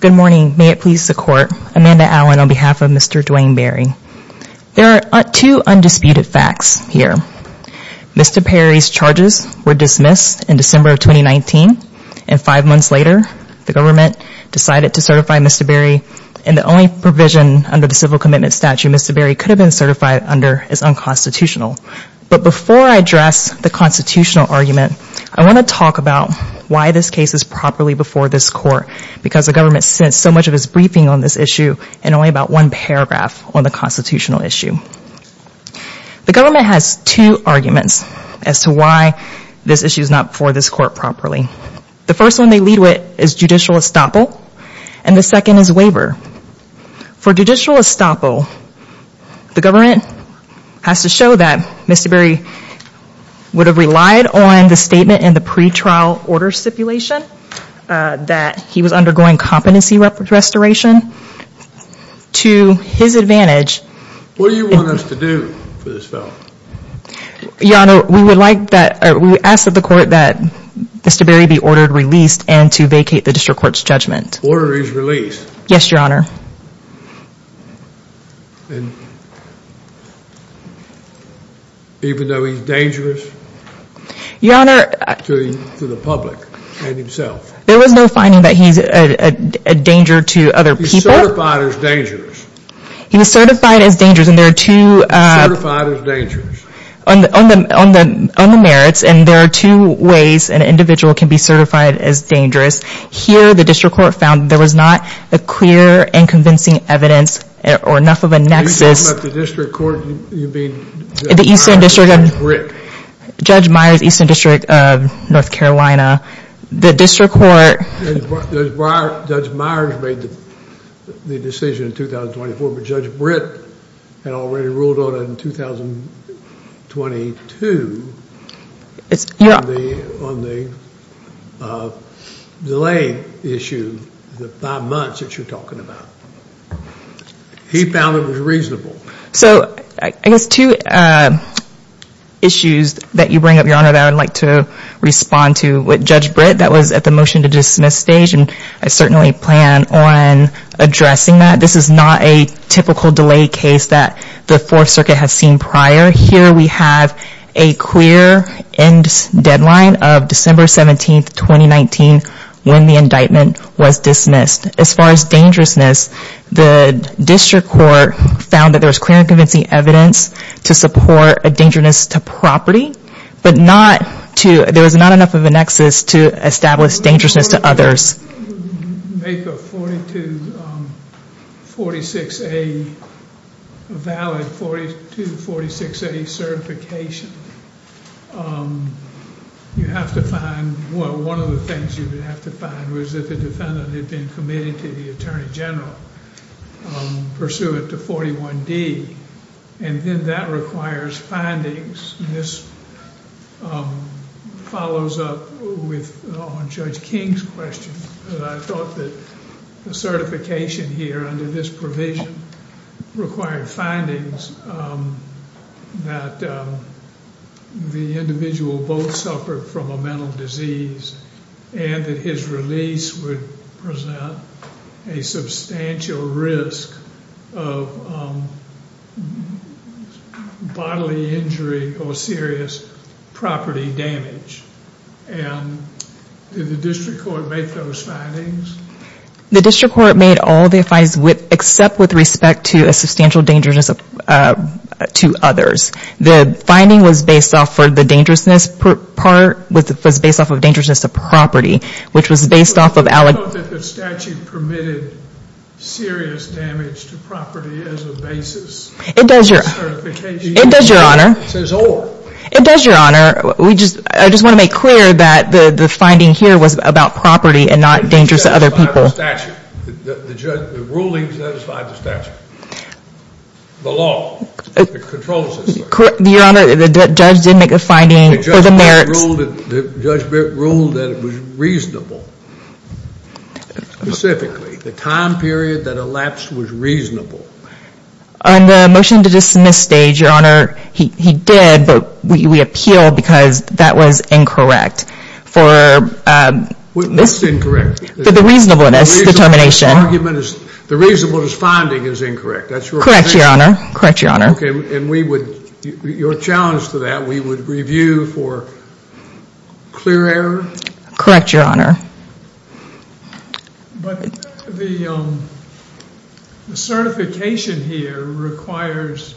Good morning, may it please the court. Amanda Allen on behalf of Mr. Duane Berry. There are two undisputed facts here. Mr. Berry's charges were dismissed in December of 2019, and five months later the government decided to certify Mr. Berry, and the only provision under the civil commitment statute Mr. Berry could have been certified under is unconstitutional. But before I address the constitutional argument, I want to talk about why this case is properly before this court, because the government sent so much of its briefing on this issue in only about one paragraph on the constitutional issue. The government has two arguments as to why this issue is not before this court properly. The first one they lead with is judicial estoppel, and the second is waiver. For judicial estoppel, the government has to show that Mr. Berry would have relied on the statement in the pre-trial order stipulation that he was undergoing competency restoration to his advantage. What do you want us to do for this felon? Your honor, we would like that we ask that the court that Mr. Berry be ordered released and to vacate the district court's judgment. Order is released. Yes, your honor. Even though he's dangerous? Your honor. To the public and himself. There was no finding that he's a danger to other people. He's certified as dangerous. He was certified as dangerous, and there are two. He's certified as dangerous. On the merits, and there are two ways an individual can be certified as dangerous. Here, the district court found there was not a clear and convincing evidence or enough of a nexus. Are you talking about the district court you mean? The eastern district. Judge Myers, eastern district of North Carolina. The district court. Judge Myers made the decision in 2024, but Judge Britt had already ruled on it in 2022. On the delay issue, the five months that you're talking about. He found it was reasonable. So I guess two issues that you bring up, your honor, that I would like to respond to. With Judge Britt, that was at the motion to dismiss stage, and I certainly plan on addressing that. This is not a typical delay case that the fourth circuit has seen prior. Here we have a clear end deadline of December 17th, 2019 when the indictment was dismissed. As far as dangerousness, the district court found that there was clear and convincing evidence to support a dangerousness to property, but there was not enough of a nexus to establish dangerousness to others. Make a 42-46A valid, 42-46A certification. You have to find, well, one of the things you would have to find was that the defendant had been committed to the attorney general pursuant to 41D, and then that requires findings. This follows up with on Judge King's question. I thought that the certification here under this provision required findings that the individual both suffered from a mental disease and that his release would present a substantial risk of bodily injury or serious property damage. Did the district court make those findings? The district court made all the findings except with respect to a substantial dangerousness to others. The finding was based off of the property, which was based off of... The statute permitted serious damage to property as a basis. It does, Your Honor. It says or. It does, Your Honor. I just want to make clear that the finding here was about property and not dangerous to other people. The ruling satisfied the statute. The law controls this. Your Honor, the judge did make a finding for the merits. The judge ruled that it was reasonable. Specifically, the time period that elapsed was reasonable. On the motion to dismiss stage, Your Honor, he did, but we appealed because that was incorrect for the reasonableness determination. The reasonableness finding is incorrect. That's correct, Your Honor. Correct, Your Honor. Okay, and we would... Your challenge to that, we would review for clear error? Correct, Your Honor. The certification here requires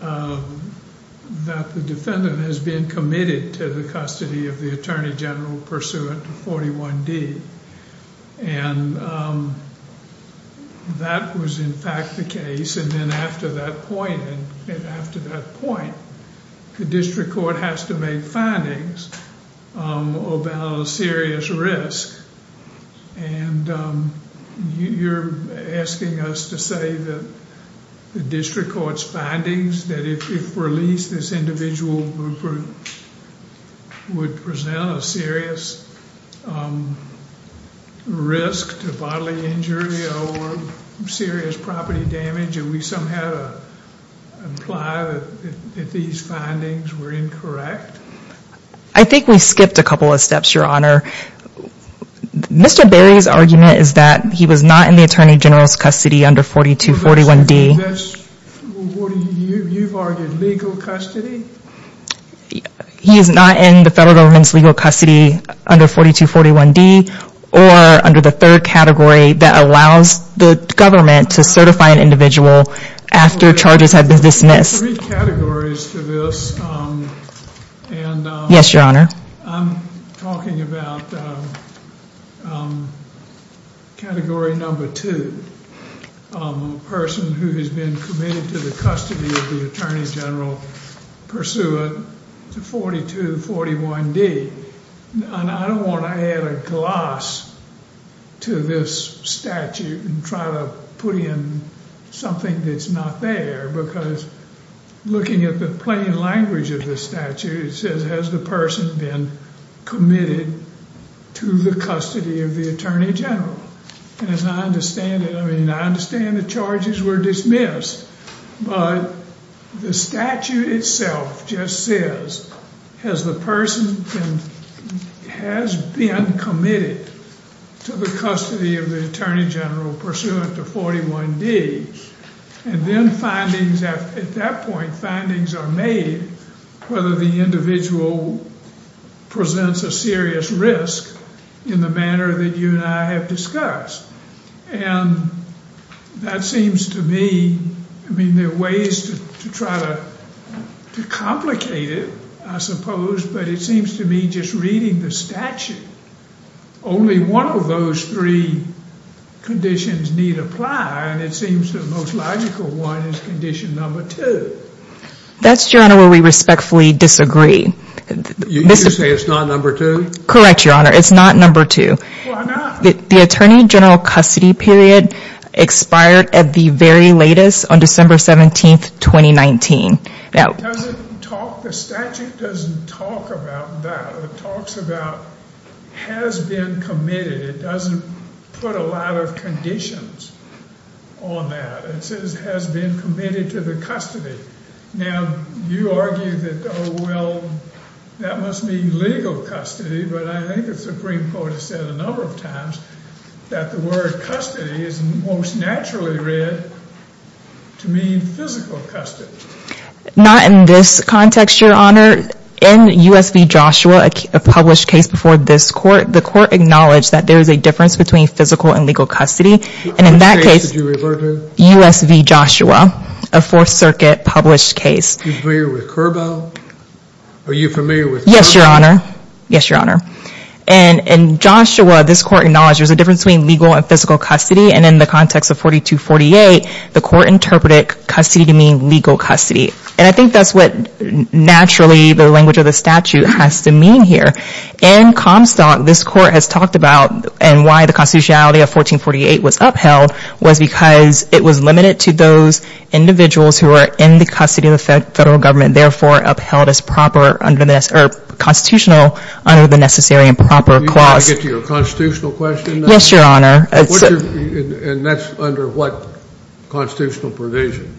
that the defendant has been committed to the custody of the Attorney General pursuant to 41D. That was in fact the case, and then after that point, and after that point, the district court has to make findings about a serious risk. You're asking us to say that the district court's findings that if released, this individual would present a serious risk to bodily injury or serious property damage? Do we somehow imply that these findings were incorrect? I think we skipped a couple of steps, Your Honor. Mr. Berry's argument is that he was not in the Attorney General's custody under 4241D. You've argued legal custody? He is not in the federal government's legal custody under 4241D or under the third category that allows the government to certify an individual after charges have been dismissed. There's three categories to this. Yes, Your Honor. I'm talking about category number two, a person who has been committed to the custody of the Attorney General pursuant to 4241D, and I don't want to add a gloss to this statute and try to put in something that's not there because looking at the plain language of the statute, it says has the person been committed to the custody of the Attorney General, and as I understand it, I mean I understand the charges were dismissed, but the statute itself just says has the person been committed to the custody of the Attorney General pursuant to 4241D, and then findings, at that point, findings are made whether the individual presents a serious risk in the manner that you and I have discussed, and that seems to me, I mean there are ways to try to to complicate it, I suppose, but it seems to me just reading the statute, only one of those three conditions need apply, and it seems the most logical one is condition number two. That's, Your Honor, where we respectfully disagree. You say it's not number two? Correct, Your Honor, it's not number two. The Attorney General custody period expired at the very latest on December 17th, 2019. Now, the statute doesn't talk about that. It talks about has been committed. It doesn't put a lot of conditions on that. It says has been committed to the custody. Now, you argue that, oh well, that must mean legal custody, but I think the Supreme Court has said a number of times that the word custody is most naturally read to mean physical custody. Not in this context, Your Honor. In U.S. v. Joshua, a published case before this court, the court acknowledged that there is a difference between physical and legal custody, and in that case, U.S. v. Joshua, a Fourth Circuit published case. Are you familiar with Curbo? Are you familiar with Curbo? Yes, Your Honor. Yes, Your Honor. In Joshua, this court acknowledged there's a difference between legal and physical custody, and in the context of 4248, the court interpreted custody to mean legal custody, and I think that's what naturally the language of the statute has to mean here. In Comstock, this court has talked about and why the constitutionality of individuals who are in the custody of the federal government, therefore upheld as constitutional under the Necessary and Proper Clause. Do you want to get to your constitutional question now? Yes, Your Honor. And that's under what constitutional provision?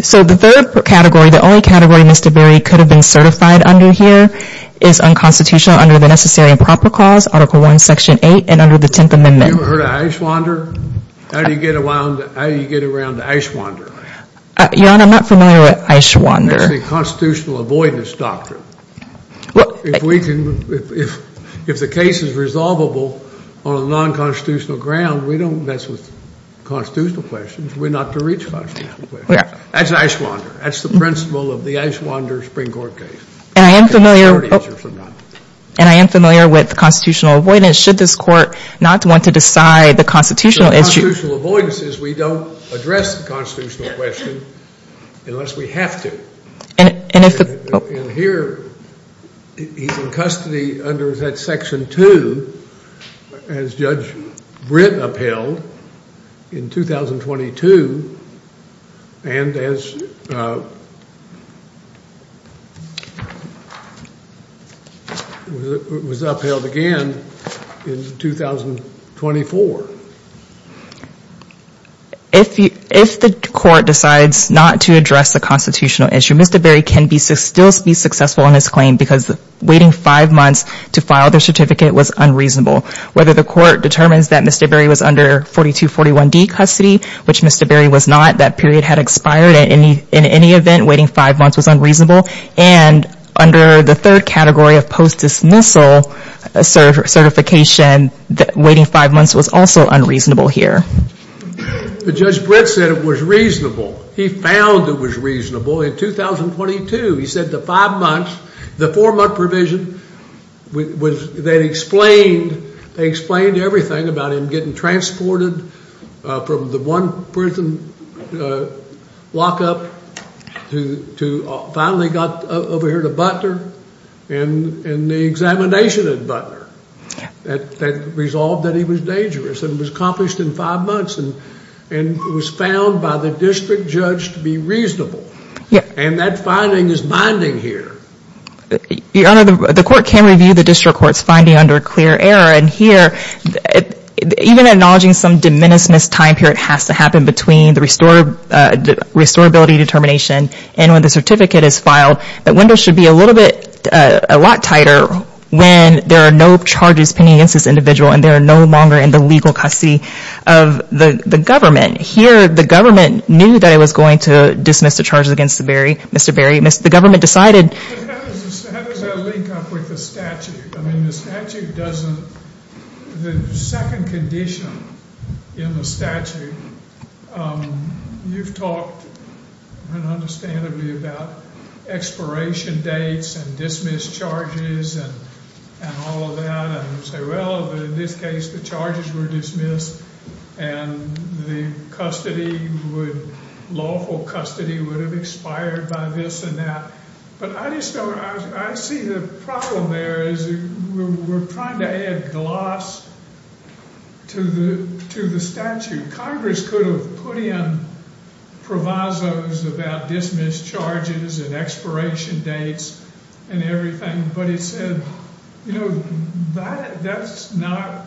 So the third category, the only category Mr. Berry could have been certified under here is unconstitutional under the Necessary and Proper Clause, Article I, Section 8, under the Tenth Amendment. You ever heard of Eichwander? How do you get around Eichwander? Your Honor, I'm not familiar with Eichwander. That's the constitutional avoidance doctrine. If the case is resolvable on a non-constitutional ground, we don't mess with constitutional questions. We're not to reach constitutional questions. That's Eichwander. That's the principle of the Eichwander Supreme Court case. And I am familiar with constitutional avoidance. Should this court not want to decide the constitutional issue? The constitutional avoidance is we don't address the constitutional question unless we have to. And here he's in custody under that Section 2 as Judge Britt upheld in 2022 and as Judge Britt was upheld again in 2024. If the court decides not to address the constitutional issue, Mr. Berry can still be successful in his claim because waiting five months to file the certificate was unreasonable. Whether the court determines that Mr. Berry was under 4241D custody, which Mr. Berry was not, that period had expired. In any event, waiting five months was unreasonable. And under the third category of post-dismissal certification, waiting five months was also unreasonable here. But Judge Britt said it was reasonable. He found it was reasonable in 2022. He said the five months, the four-month provision, they explained everything about him getting transported from the one prison lockup to finally got over here to Butler and the examination at Butler that resolved that he was dangerous. And it was accomplished in five months and was found by the district judge to be reasonable. And that finding is binding here. Your Honor, the court can review the district court's finding under clear error. And here, even acknowledging some diminished missed time period has to happen between the restorability determination and when the certificate is filed, the window should be a little bit, a lot tighter when there are no charges pending against this individual and they are no longer in the legal custody of the government. Here, the government knew that it was going to dismiss the charges against Mr. Berry. The government decided... How does that link up with the statute? I mean, the statute doesn't... The second condition in the statute, you've talked un-understandably about expiration dates and dismissed charges and all of that. And you say, well, in this case, the charges were dismissed and the lawful custody would have expired by this and that. But I just don't... I see the problem there is we're trying to add gloss to the statute. Congress could have put in provisos about dismissed charges and expiration dates and everything, but it said, you know, that's not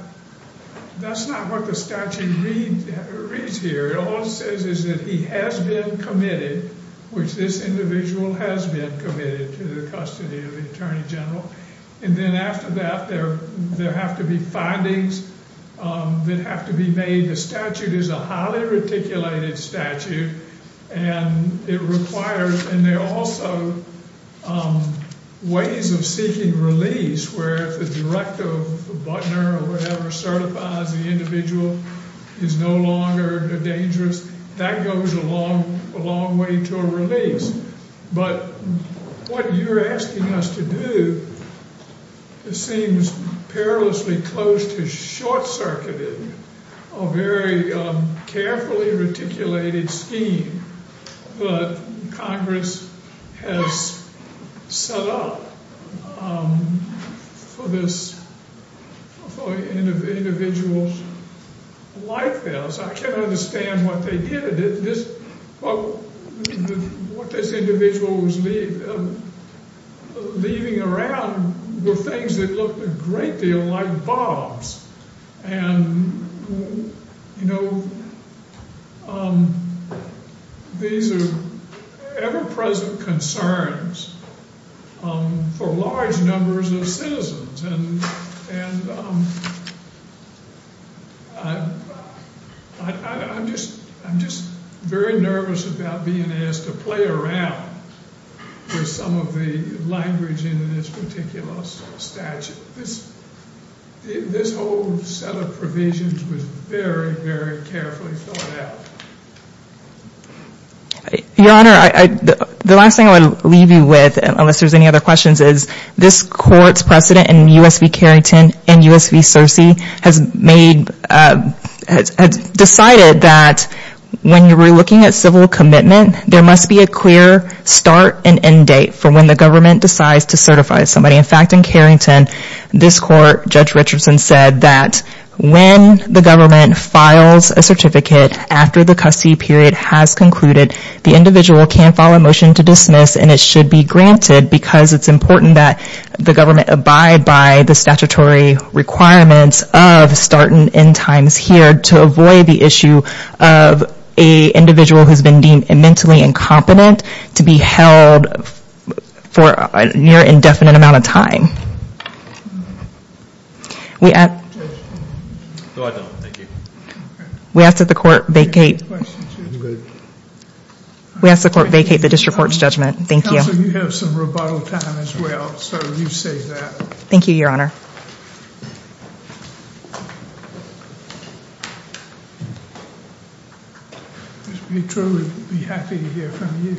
what the statute reads here. It all says is that he has been committed, which this individual has been committed to the custody of the Attorney General. And then after that, there have to be findings that have to be made. The statute is a highly reticulated statute and it requires... And there are also ways of seeking release where if the director of Butner or whatever certifies the individual is no longer dangerous, that goes a long way to a release. But what you're asking us to do, it seems perilously close to short-circuited, a very carefully reticulated scheme that Congress has set up for individuals like this. I can't understand what they did. What this individual was leaving around were things that looked a great deal like bombs. And, you know, these are ever-present concerns for large numbers of citizens. And I'm just very nervous about being asked to play around with some of the language in this particular statute. This whole set of provisions was very, very carefully thought out. Your Honor, the last thing I'll leave you with, unless there's any other questions, is this Court's precedent in U.S. v. Carrington and U.S. v. Searcy has decided that when you're looking at civil commitment, there must be a clear start and end date for when the government decides to certify somebody. In fact, in Carrington, this Court, Judge Richardson said that when the government files a certificate after the custody period has concluded, the individual can file a the government abide by the statutory requirements of start and end times here to avoid the issue of an individual who's been deemed mentally incompetent to be held for a near indefinite amount of time. We ask that the Court vacate the District Court's judgment. Thank you. You have some rebuttal time as well, so you save that. Thank you, Your Honor. Ms. Petrie, we'd be happy to hear from you.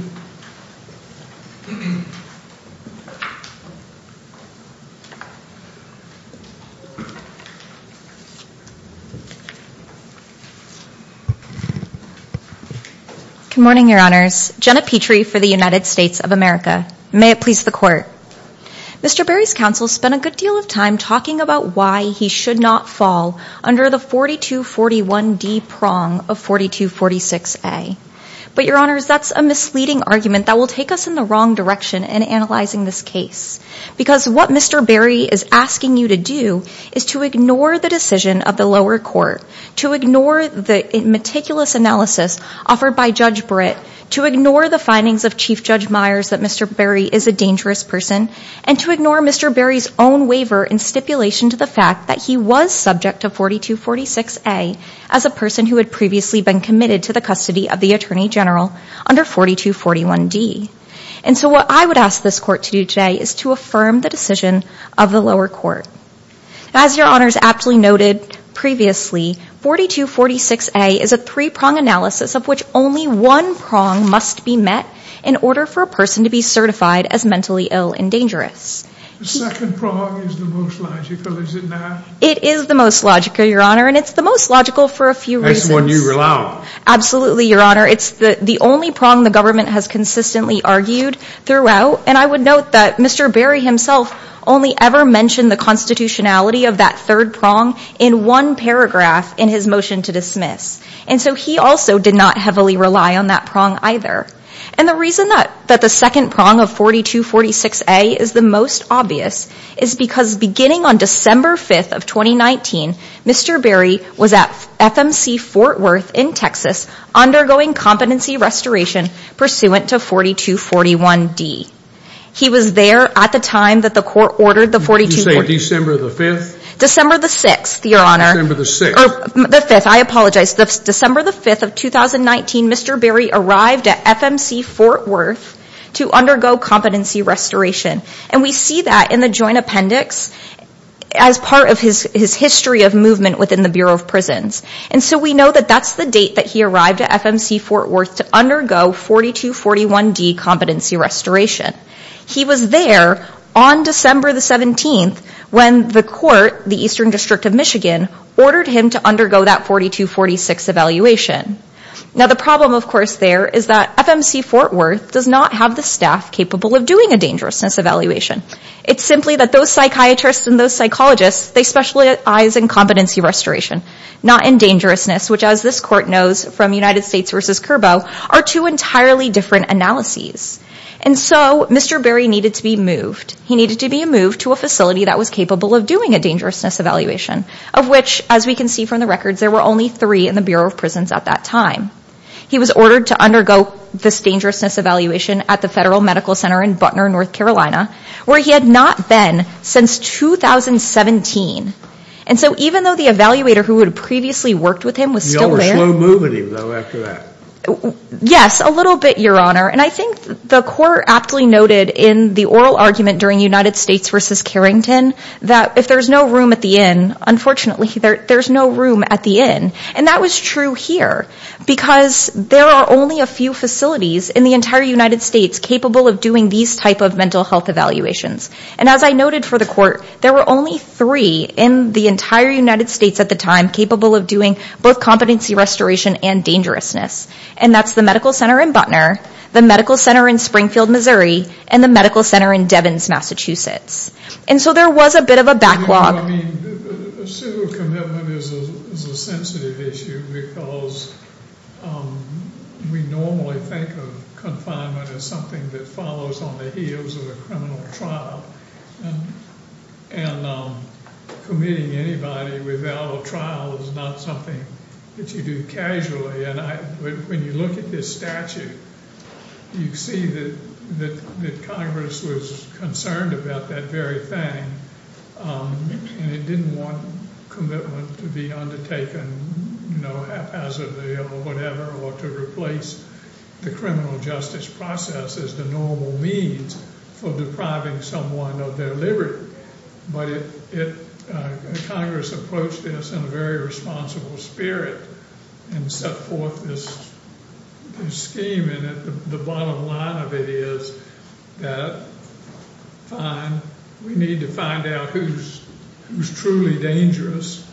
Good morning, Your Honors. Jenna Petrie for the United States of America. May it please the Court. Mr. Berry's counsel spent a good deal of time talking about why he should not fall under the 4241D prong of 4246A. But, Your Honors, that's a misleading argument that will take us in the wrong direction in analyzing this case because what Mr. Berry is asking you to do is to ignore the decision of the lower court, to ignore the meticulous analysis offered by Judge Britt, to ignore the Chief Judge Myers that Mr. Berry is a dangerous person, and to ignore Mr. Berry's own waiver and stipulation to the fact that he was subject to 4246A as a person who had previously been committed to the custody of the Attorney General under 4241D. And so what I would ask this Court to do today is to affirm the decision of the lower court. As Your Honors aptly noted previously, 4246A is a must be met in order for a person to be certified as mentally ill and dangerous. It is the most logical, Your Honor, and it's the most logical for a few reasons. Absolutely, Your Honor. It's the only prong the government has consistently argued throughout. And I would note that Mr. Berry himself only ever mentioned the constitutionality of that third prong in one paragraph in his motion to dismiss. And so he also did not heavily rely on that prong either. And the reason that the second prong of 4246A is the most obvious is because beginning on December 5th of 2019, Mr. Berry was at FMC Fort Worth in Texas undergoing competency restoration pursuant to 4241D. He was there at the time that the court ordered the 4246A. Did you say December the 5th? December the 6th, Your Honor. December the 6th. The 5th. I apologize. December the 5th of 2019, Mr. Berry arrived at FMC Fort Worth to undergo competency restoration. And we see that in the joint appendix as part of his history of movement within the Bureau of Prisons. And so we know that that's the date that he arrived at FMC Fort Worth to undergo 4241D competency restoration. He was there on December the 17th when the court, the Eastern District of Michigan, ordered him to undergo that 4246 evaluation. Now the problem of course there is that FMC Fort Worth does not have the staff capable of doing a dangerousness evaluation. It's simply that those psychiatrists and those psychologists, they specialize in competency restoration, not in dangerousness, which as this court knows from United States versus Curbo, are two entirely different analyses. And so Mr. Berry needed to be moved. He needed to be moved to a facility that was capable of doing a dangerousness evaluation, of which, as we can see from the records, there were only three in the Bureau of Prisons at that time. He was ordered to undergo this dangerousness evaluation at the Federal Medical Center in Butner, North Carolina, where he had not been since 2017. And so even though the evaluator who had previously worked with him was still there. Yes, a little bit, Your Honor. And I think the court aptly noted in the oral argument during United States versus Carrington that if there's no room at the inn, unfortunately there's no room at the inn. And that was true here because there are only a few facilities in the entire United States capable of doing these type of mental health evaluations. And as I noted for the court, there were only three in the entire United States at the time capable of doing both competency restoration and dangerousness. And that's the medical center in Butner, the medical center in Springfield, Missouri, and the medical center in Devins, Massachusetts. And so there was a bit of a backlog. I mean, a civil commitment is a sensitive issue because we normally think of confinement as something that follows on the heels of a criminal trial. And committing anybody without a trial is not something that you do casually. And when you look at this statute, you see that Congress was concerned about that very thing. And it didn't want commitment to be undertaken, you know, haphazardly or whatever, or to replace the criminal justice process as the normal means for depriving someone of their liberty. But Congress approached this in a very responsible spirit and set forth this scheme. And the bottom line of it is that, fine, we need to find out who's truly dangerous.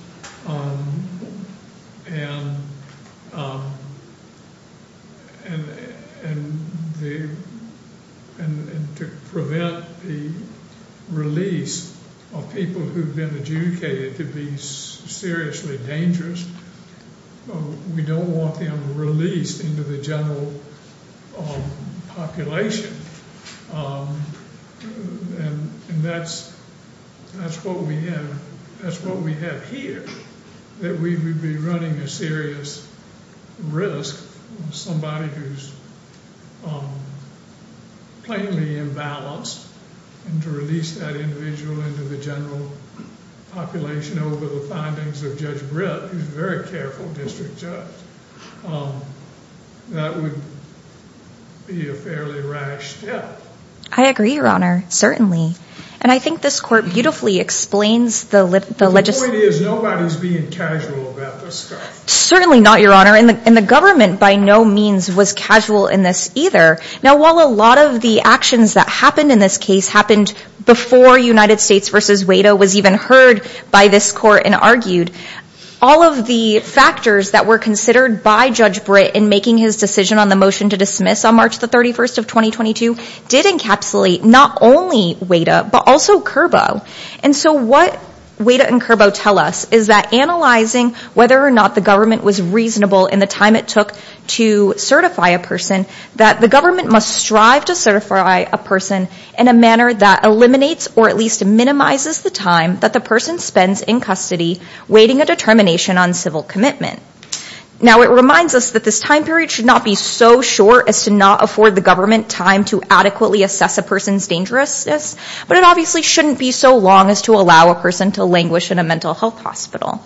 And to prevent the release of people who've been adjudicated to be seriously dangerous, we don't want them released into the general population. And that's what we have here, that we would be running a serious risk, somebody who's plainly imbalanced, and to release that individual into the general population over the findings of Judge Britt, who's a very careful district judge, that would be a fairly rash step. I agree, Your Honor, certainly. And I think this court beautifully explains the legislative... The point is, nobody's being casual about this stuff. Certainly not, Your Honor. And the government, by no means, was casual in this either. Now, while a lot of the actions that happened in this case happened before United States versus WADA was even heard by this court and argued, all of the factors that were considered by Judge Britt in making his decision on the motion to dismiss on March the 31st of 2022 did encapsulate not only WADA, but also CURBO. And so what WADA and CURBO tell us is that analyzing whether or not the government was reasonable in the time it took to certify a person, that the government must strive to certify a person in a manner that eliminates or at least minimizes the time that the person spends in custody waiting a determination on civil commitment. Now, it reminds us that this time period should not be so short as to not afford the government time to adequately assess a person's dangerousness, but it obviously shouldn't be so long as to allow a person to languish in a mental health hospital.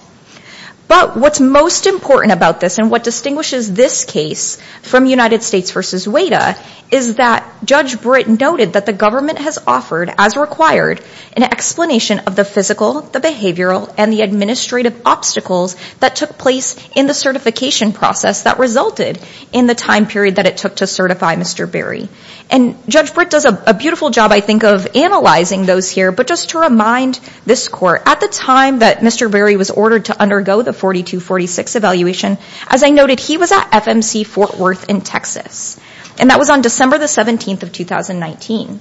But what's most important about this and what distinguishes this case from United States versus WADA is that Judge Britt noted that the government has offered, as required, an explanation of the physical, the behavioral, and the administrative obstacles that took place in the certification process that resulted in the time period that it took to certify Mr. Berry. And Judge Britt does a beautiful job, I think, of analyzing those here. But just to remind this court, at the time that Mr. Berry was ordered to undergo the 4246 evaluation, as I noted, he was at FMC Fort Worth in Texas, and that was on December the 17th of 2019.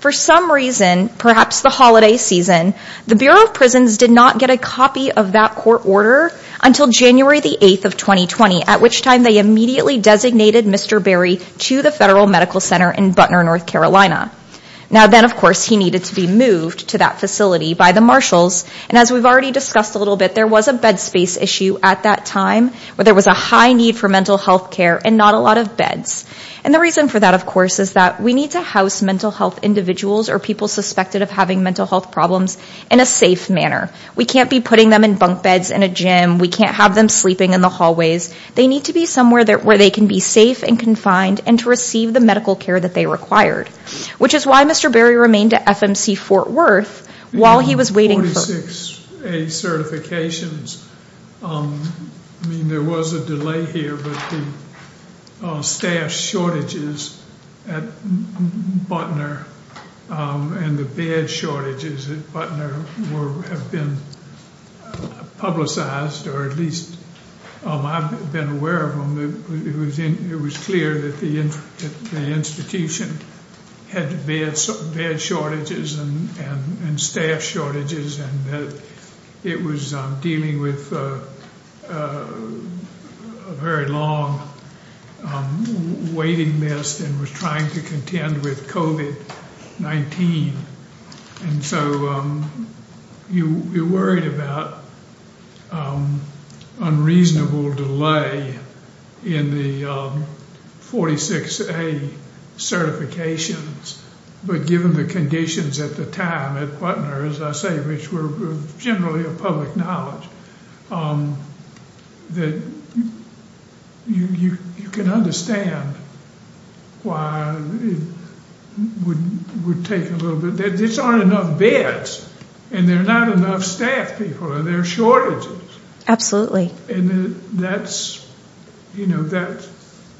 For some reason, perhaps the holiday season, the Bureau of Prisons did not get a copy of that court order until January the 8th of 2020, at which time they immediately designated Mr. Berry to the Federal Medical Center in Butner, North Carolina. Now then, of course, he needed to be moved to that facility by the marshals. And as we've already discussed a little bit, there was a bed space issue at that time where there was a high need for mental health care and not a lot of beds. And the reason for that, of course, is that we need to house mental health individuals or people suspected of having mental health problems in a safe manner. We can't be putting them in bunk beds in a gym. We can't have them sleeping in the hallways. They need to be somewhere where they can be safe and confined and to receive the medical care that they required, which is why Mr. Berry remained at FMC Fort Worth while he was waiting. 46A certifications, I mean there was a delay here, but the staff shortages at Butner and the bed shortages at Butner have been publicized, or at least I've been aware of them. It was clear that the institution had bed shortages and staff shortages, and it was dealing with a very long waiting list and was trying to contend with COVID-19. And so you're worried about unreasonable delay in the 46A certifications, but given the conditions at the time at Butner, as I say, which were generally of public knowledge, that you can understand why it would take a little bit. There just aren't enough beds, and there are not enough staff people, and there are shortages. Absolutely. And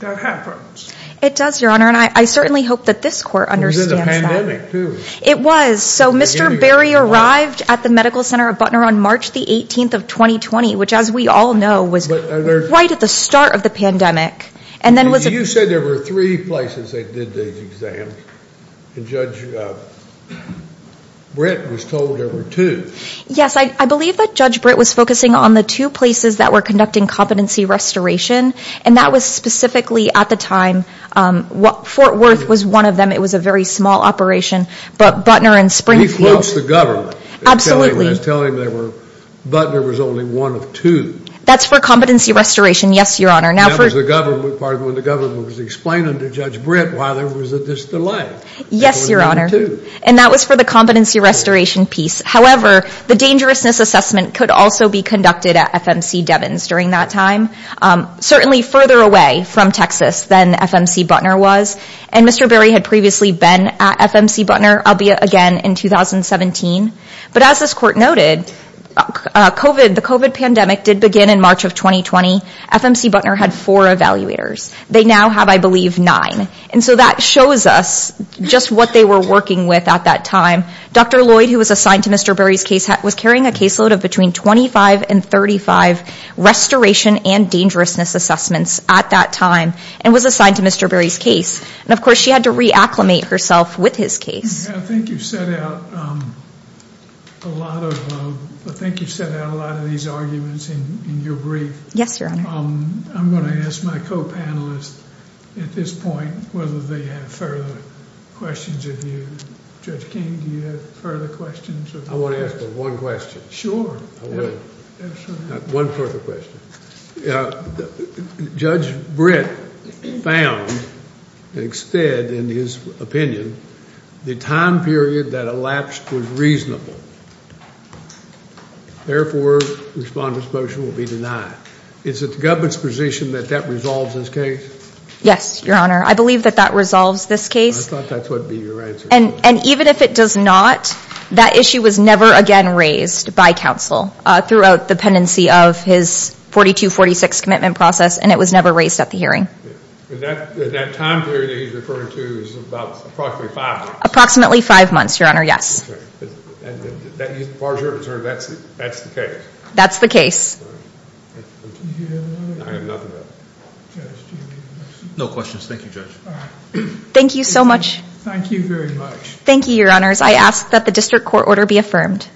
that happens. It does, Your Honor, and I certainly hope that this Court understands that. It was in the pandemic too. It was. So Mr. Berry arrived at the Medical Center of Butner on March the 18th of 2020, which as we all know was right at the start of the pandemic. You said there were three places they did these exams, and Judge Britt was told there were two. Yes, I believe that Judge Britt was focusing on the two places that were conducting competency restoration, and that was specifically at the time. Fort Worth was one of them. It was a very small operation, but Butner and Springfield. He quotes the government. Absolutely. When I was telling him there were, Butner was only one of two. That's for competency restoration. Yes, Your Honor. That was the part when the government was explaining to Judge Britt why there was this delay. Yes, Your Honor, and that was for the competency restoration piece. However, the dangerousness assessment could also be conducted at FMC Devins during that time, certainly further away from Texas than FMC Butner was, and Mr. Berry had previously been at FMC again in 2017, but as this court noted, the COVID pandemic did begin in March of 2020. FMC Butner had four evaluators. They now have, I believe, nine, and so that shows us just what they were working with at that time. Dr. Lloyd, who was assigned to Mr. Berry's case, was carrying a caseload of between 25 and 35 restoration and dangerousness assessments at that time and was assigned to Mr. Berry's case, and of course she had to re-acclimate herself with his case. I think you set out a lot of these arguments in your brief. Yes, Your Honor. I'm going to ask my co-panelists at this point whether they have further questions of you. Judge King, do you have further questions? I want to ask one question. Sure. One further question. Judge Britt found and extended, in his opinion, the time period that elapsed was reasonable. Therefore, Respondent's motion will be denied. Is it the government's position that that resolves this case? Yes, Your Honor. I believe that that resolves this case. I thought that would be your answer. And even if it does not, that issue was never again raised by counsel throughout the of his 42-46 commitment process and it was never raised at the hearing. That time period that he's referring to is about approximately five months? Approximately five months, Your Honor, yes. As far as you're concerned, that's the case? That's the case. No questions. Thank you, Judge. Thank you so much. Thank you very much. Thank you, Your Honors. I thank you.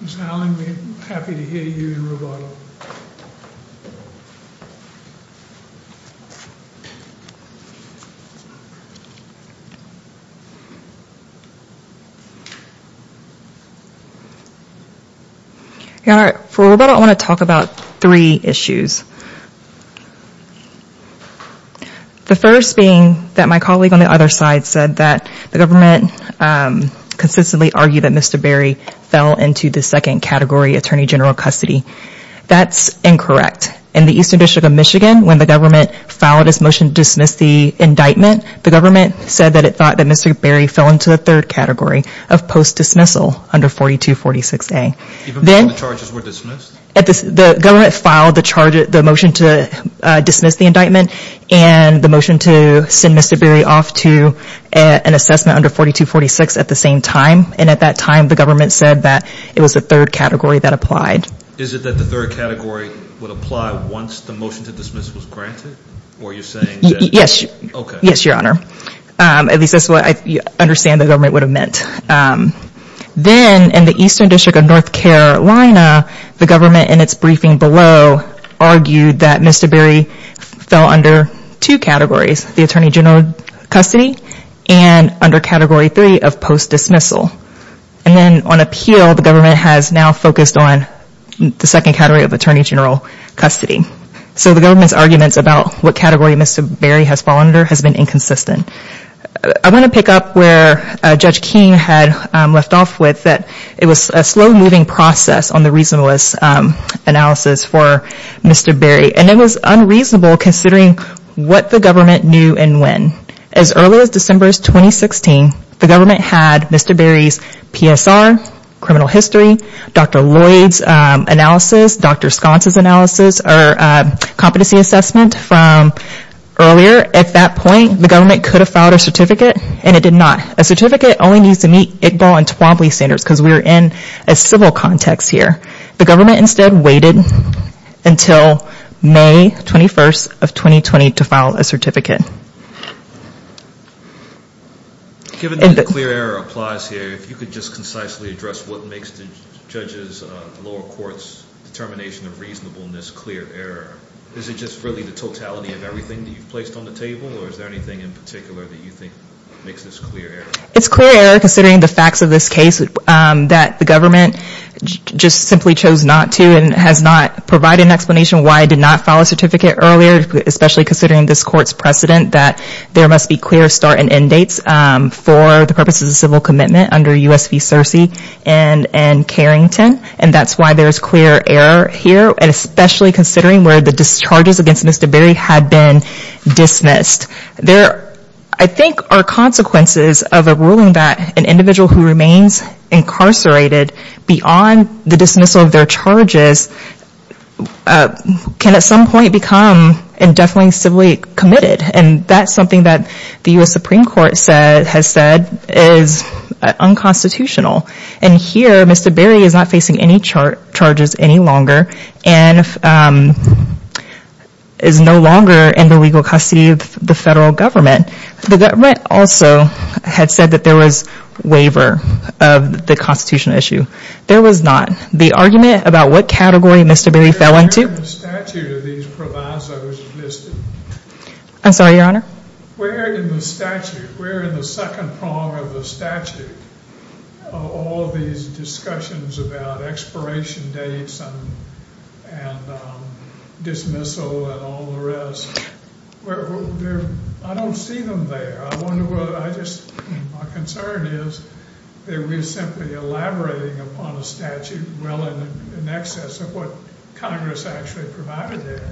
Ms. Allen, we're happy to hear you in Roboto. Your Honor, for Roboto, I want to talk about three issues. The first being that my colleague on the other side said that the government consistently argued that Mr. Berry fell into the second category, attorney general custody. That's incorrect. In the Eastern District of Michigan, when the government filed its motion to dismiss the indictment, the government said that it thought that Mr. Berry fell into the third category of post-dismissal under 42-46A. Even before the charges were dismissed? The government filed the motion to dismiss the indictment and the motion to send Mr. Berry off to an assessment under 42-46 at the same time. And at that time, the government said that it was the third category that applied. Is it that the third category would apply once the motion to dismiss was granted? Were you saying? Yes. Yes, Your Honor. At least that's what I understand the government would have meant. Then in the Eastern District of North Carolina, the government in its briefing below argued that Mr. Berry fell under two categories, the attorney general custody and under category three of post-dismissal. And then on appeal, the government has now focused on the second category of attorney general custody. So the government's arguments about what category Mr. Berry has fallen under has been inconsistent. I want to pick up where Judge Keene had left off that it was a slow-moving process on the reasonableness analysis for Mr. Berry. And it was unreasonable considering what the government knew and when. As early as December 2016, the government had Mr. Berry's PSR, criminal history, Dr. Lloyd's analysis, Dr. Sconce's analysis, or competency assessment from earlier. At that point, the government could have filed a certificate and it did not. A certificate only needs to meet Iqbal and Twombly standards because we're in a civil context here. The government instead waited until May 21st of 2020 to file a certificate. Given that the clear error applies here, if you could just concisely address what makes the judges, the lower courts determination of reasonableness clear error. Is it just really the totality of everything that you've placed on the table or is there anything in particular that you think makes this clear error? It's clear error considering the facts of this case that the government just simply chose not to and has not provided an explanation why it did not file a certificate earlier, especially considering this court's precedent that there must be clear start and end dates for the purposes of civil commitment under U.S. v. Searcy and Carrington. And that's why there's clear error here and especially considering where the discharges against Mr. Berry had been dismissed. There, I think, are consequences of a ruling that an individual who remains incarcerated beyond the dismissal of their charges can at some point become indefinitely and civilly committed. And that's something that the U.S. Supreme Court has said is unconstitutional. And here, Mr. Berry is not any charges any longer and is no longer in the legal custody of the federal government. The government also had said that there was waiver of the constitutional issue. There was not. The argument about what category Mr. Berry fell into... Where in the statute are these provisos listed? Expiration dates and dismissal and all the rest. I don't see them there. I wonder whether I just... My concern is that we're simply elaborating upon a statute well in excess of what Congress actually provided there.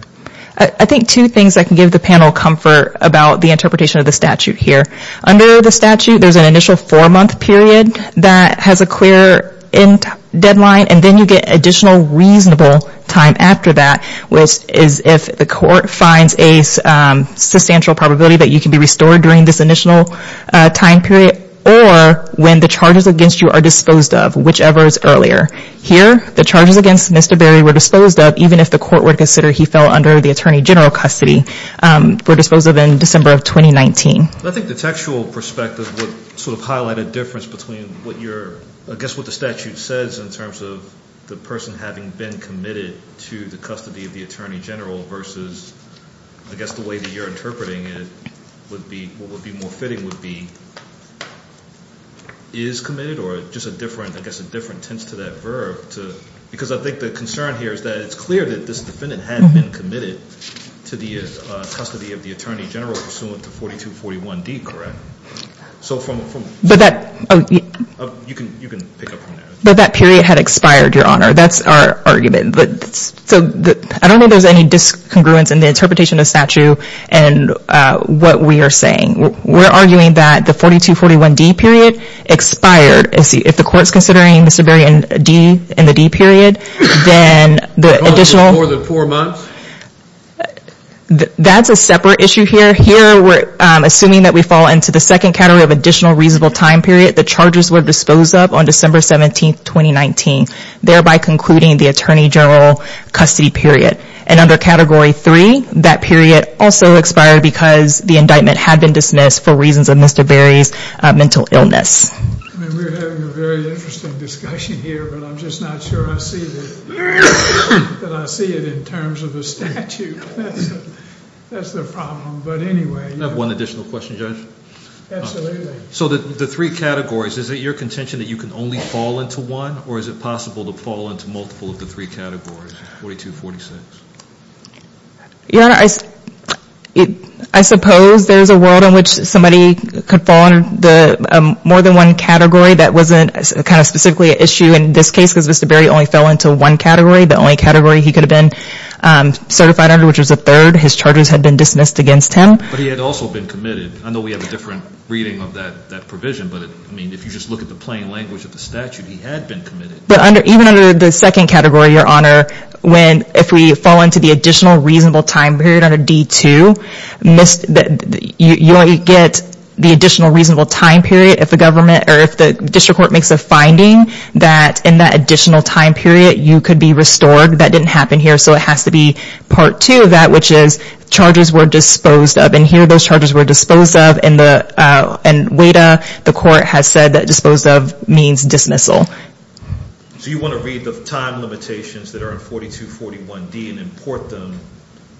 I think two things that can give the panel comfort about the interpretation of the statute here. Under the statute, there's an initial four-month period that has a clear end deadline and then you get additional reasonable time after that, which is if the court finds a substantial probability that you can be restored during this initial time period or when the charges against you are disposed of, whichever is earlier. Here, the charges against Mr. Berry were disposed of even if the court were to consider he fell under the Attorney General custody. Were disposed of in December of 2019. I think the textual perspective would highlight a difference between what the statute says in terms of the person having been committed to the custody of the Attorney General versus the way that you're interpreting it. What would be more fitting would be is committed or just a different tense to that verb. Because I think the concern here is that it's clear that this defendant had been committed to the custody of the Attorney General pursuant to 4241D, correct? You can pick up from there. But that period had expired, Your Honor. That's our argument. I don't think there's any discongruence in the interpretation of statute and what we are saying. We're arguing that the 4241D period expired. If the court's considering Mr. Berry in the D period, then the additional... Four months? That's a separate issue here. Here, we're assuming that we fall into the second category of additional reasonable time period. The charges were disposed of on December 17, 2019, thereby concluding the Attorney General custody period. And under Category 3, that period also expired because the indictment had been dismissed for reasons of Mr. Berry's mental illness. I mean, we're having a very interesting discussion here, but I'm just not sure I see that that I see it in terms of a statute. That's the problem. But anyway... I have one additional question, Judge. Absolutely. So the three categories, is it your contention that you can only fall into one or is it possible to fall into multiple of the three categories, 4246? Your Honor, I suppose there's a world in which somebody could fall under more than one category. That wasn't kind of specifically an issue in this case because Mr. Berry only fell into one category. The only category he could have been certified under, which was the third, his charges had been dismissed against him. But he had also been committed. I know we have a different reading of that provision, but I mean, if you just look at the plain language of the statute, he had been committed. But even under the second category, Your Honor, if we fall into the additional reasonable time period under D2, you only get the additional reasonable time period if the district court makes a finding that in that additional time period, you could be restored. That didn't happen here. So it has to be part two of that, which is charges were disposed of. And here, those charges were disposed of and WADA, the court, has said that disposed of means dismissal. So you want to read the time limitations that are in 4241D and import them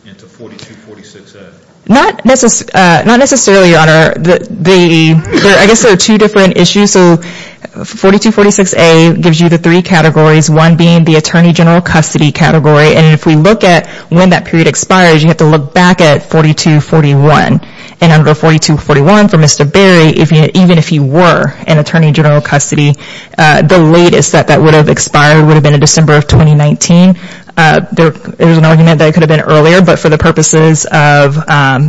into 4246A? Not necessarily, Your Honor. I guess there are two different issues. So 4246A gives you the three categories, one being the attorney general custody category. And if we look at when that period expires, you have to look back at 4241. And under 4241 for Mr. Berry, even if he were an attorney general custody, the latest that that would have expired would have been in December of 2019. There was an argument that it could have been earlier, but for the purposes of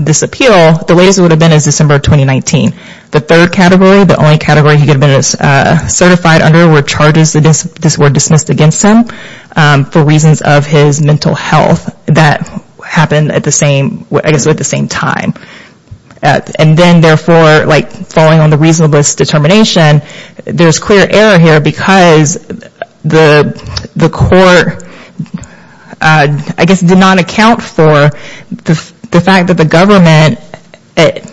this appeal, the latest would have been in December of 2019. The third category, the only category he could have been certified under were charges that were dismissed against him for reasons of his mental health that happened at the same time. And then therefore, falling on the reasonableness determination, there's clear error here because the court, I guess, did not account for the fact that the government at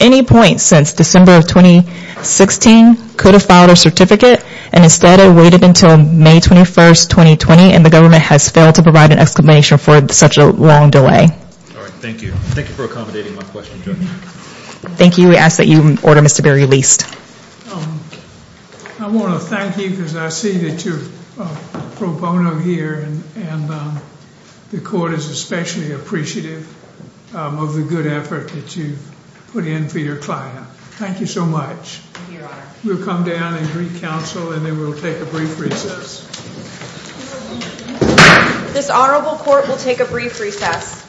any point since December of 2016 could have filed a certificate. And instead, it waited until May 21st, 2020, and the government has failed to provide an exclamation for such a long delay. All right. Thank you. Thank you for accommodating my question, Judge. Thank you. We ask that you order Mr. Berry released. I want to thank you because I see that you're pro bono here and the court is especially appreciative of the good effort that you put in for your client. Thank you so much. We'll come down and greet counsel and then we'll take a brief recess. This honorable court will take a brief recess.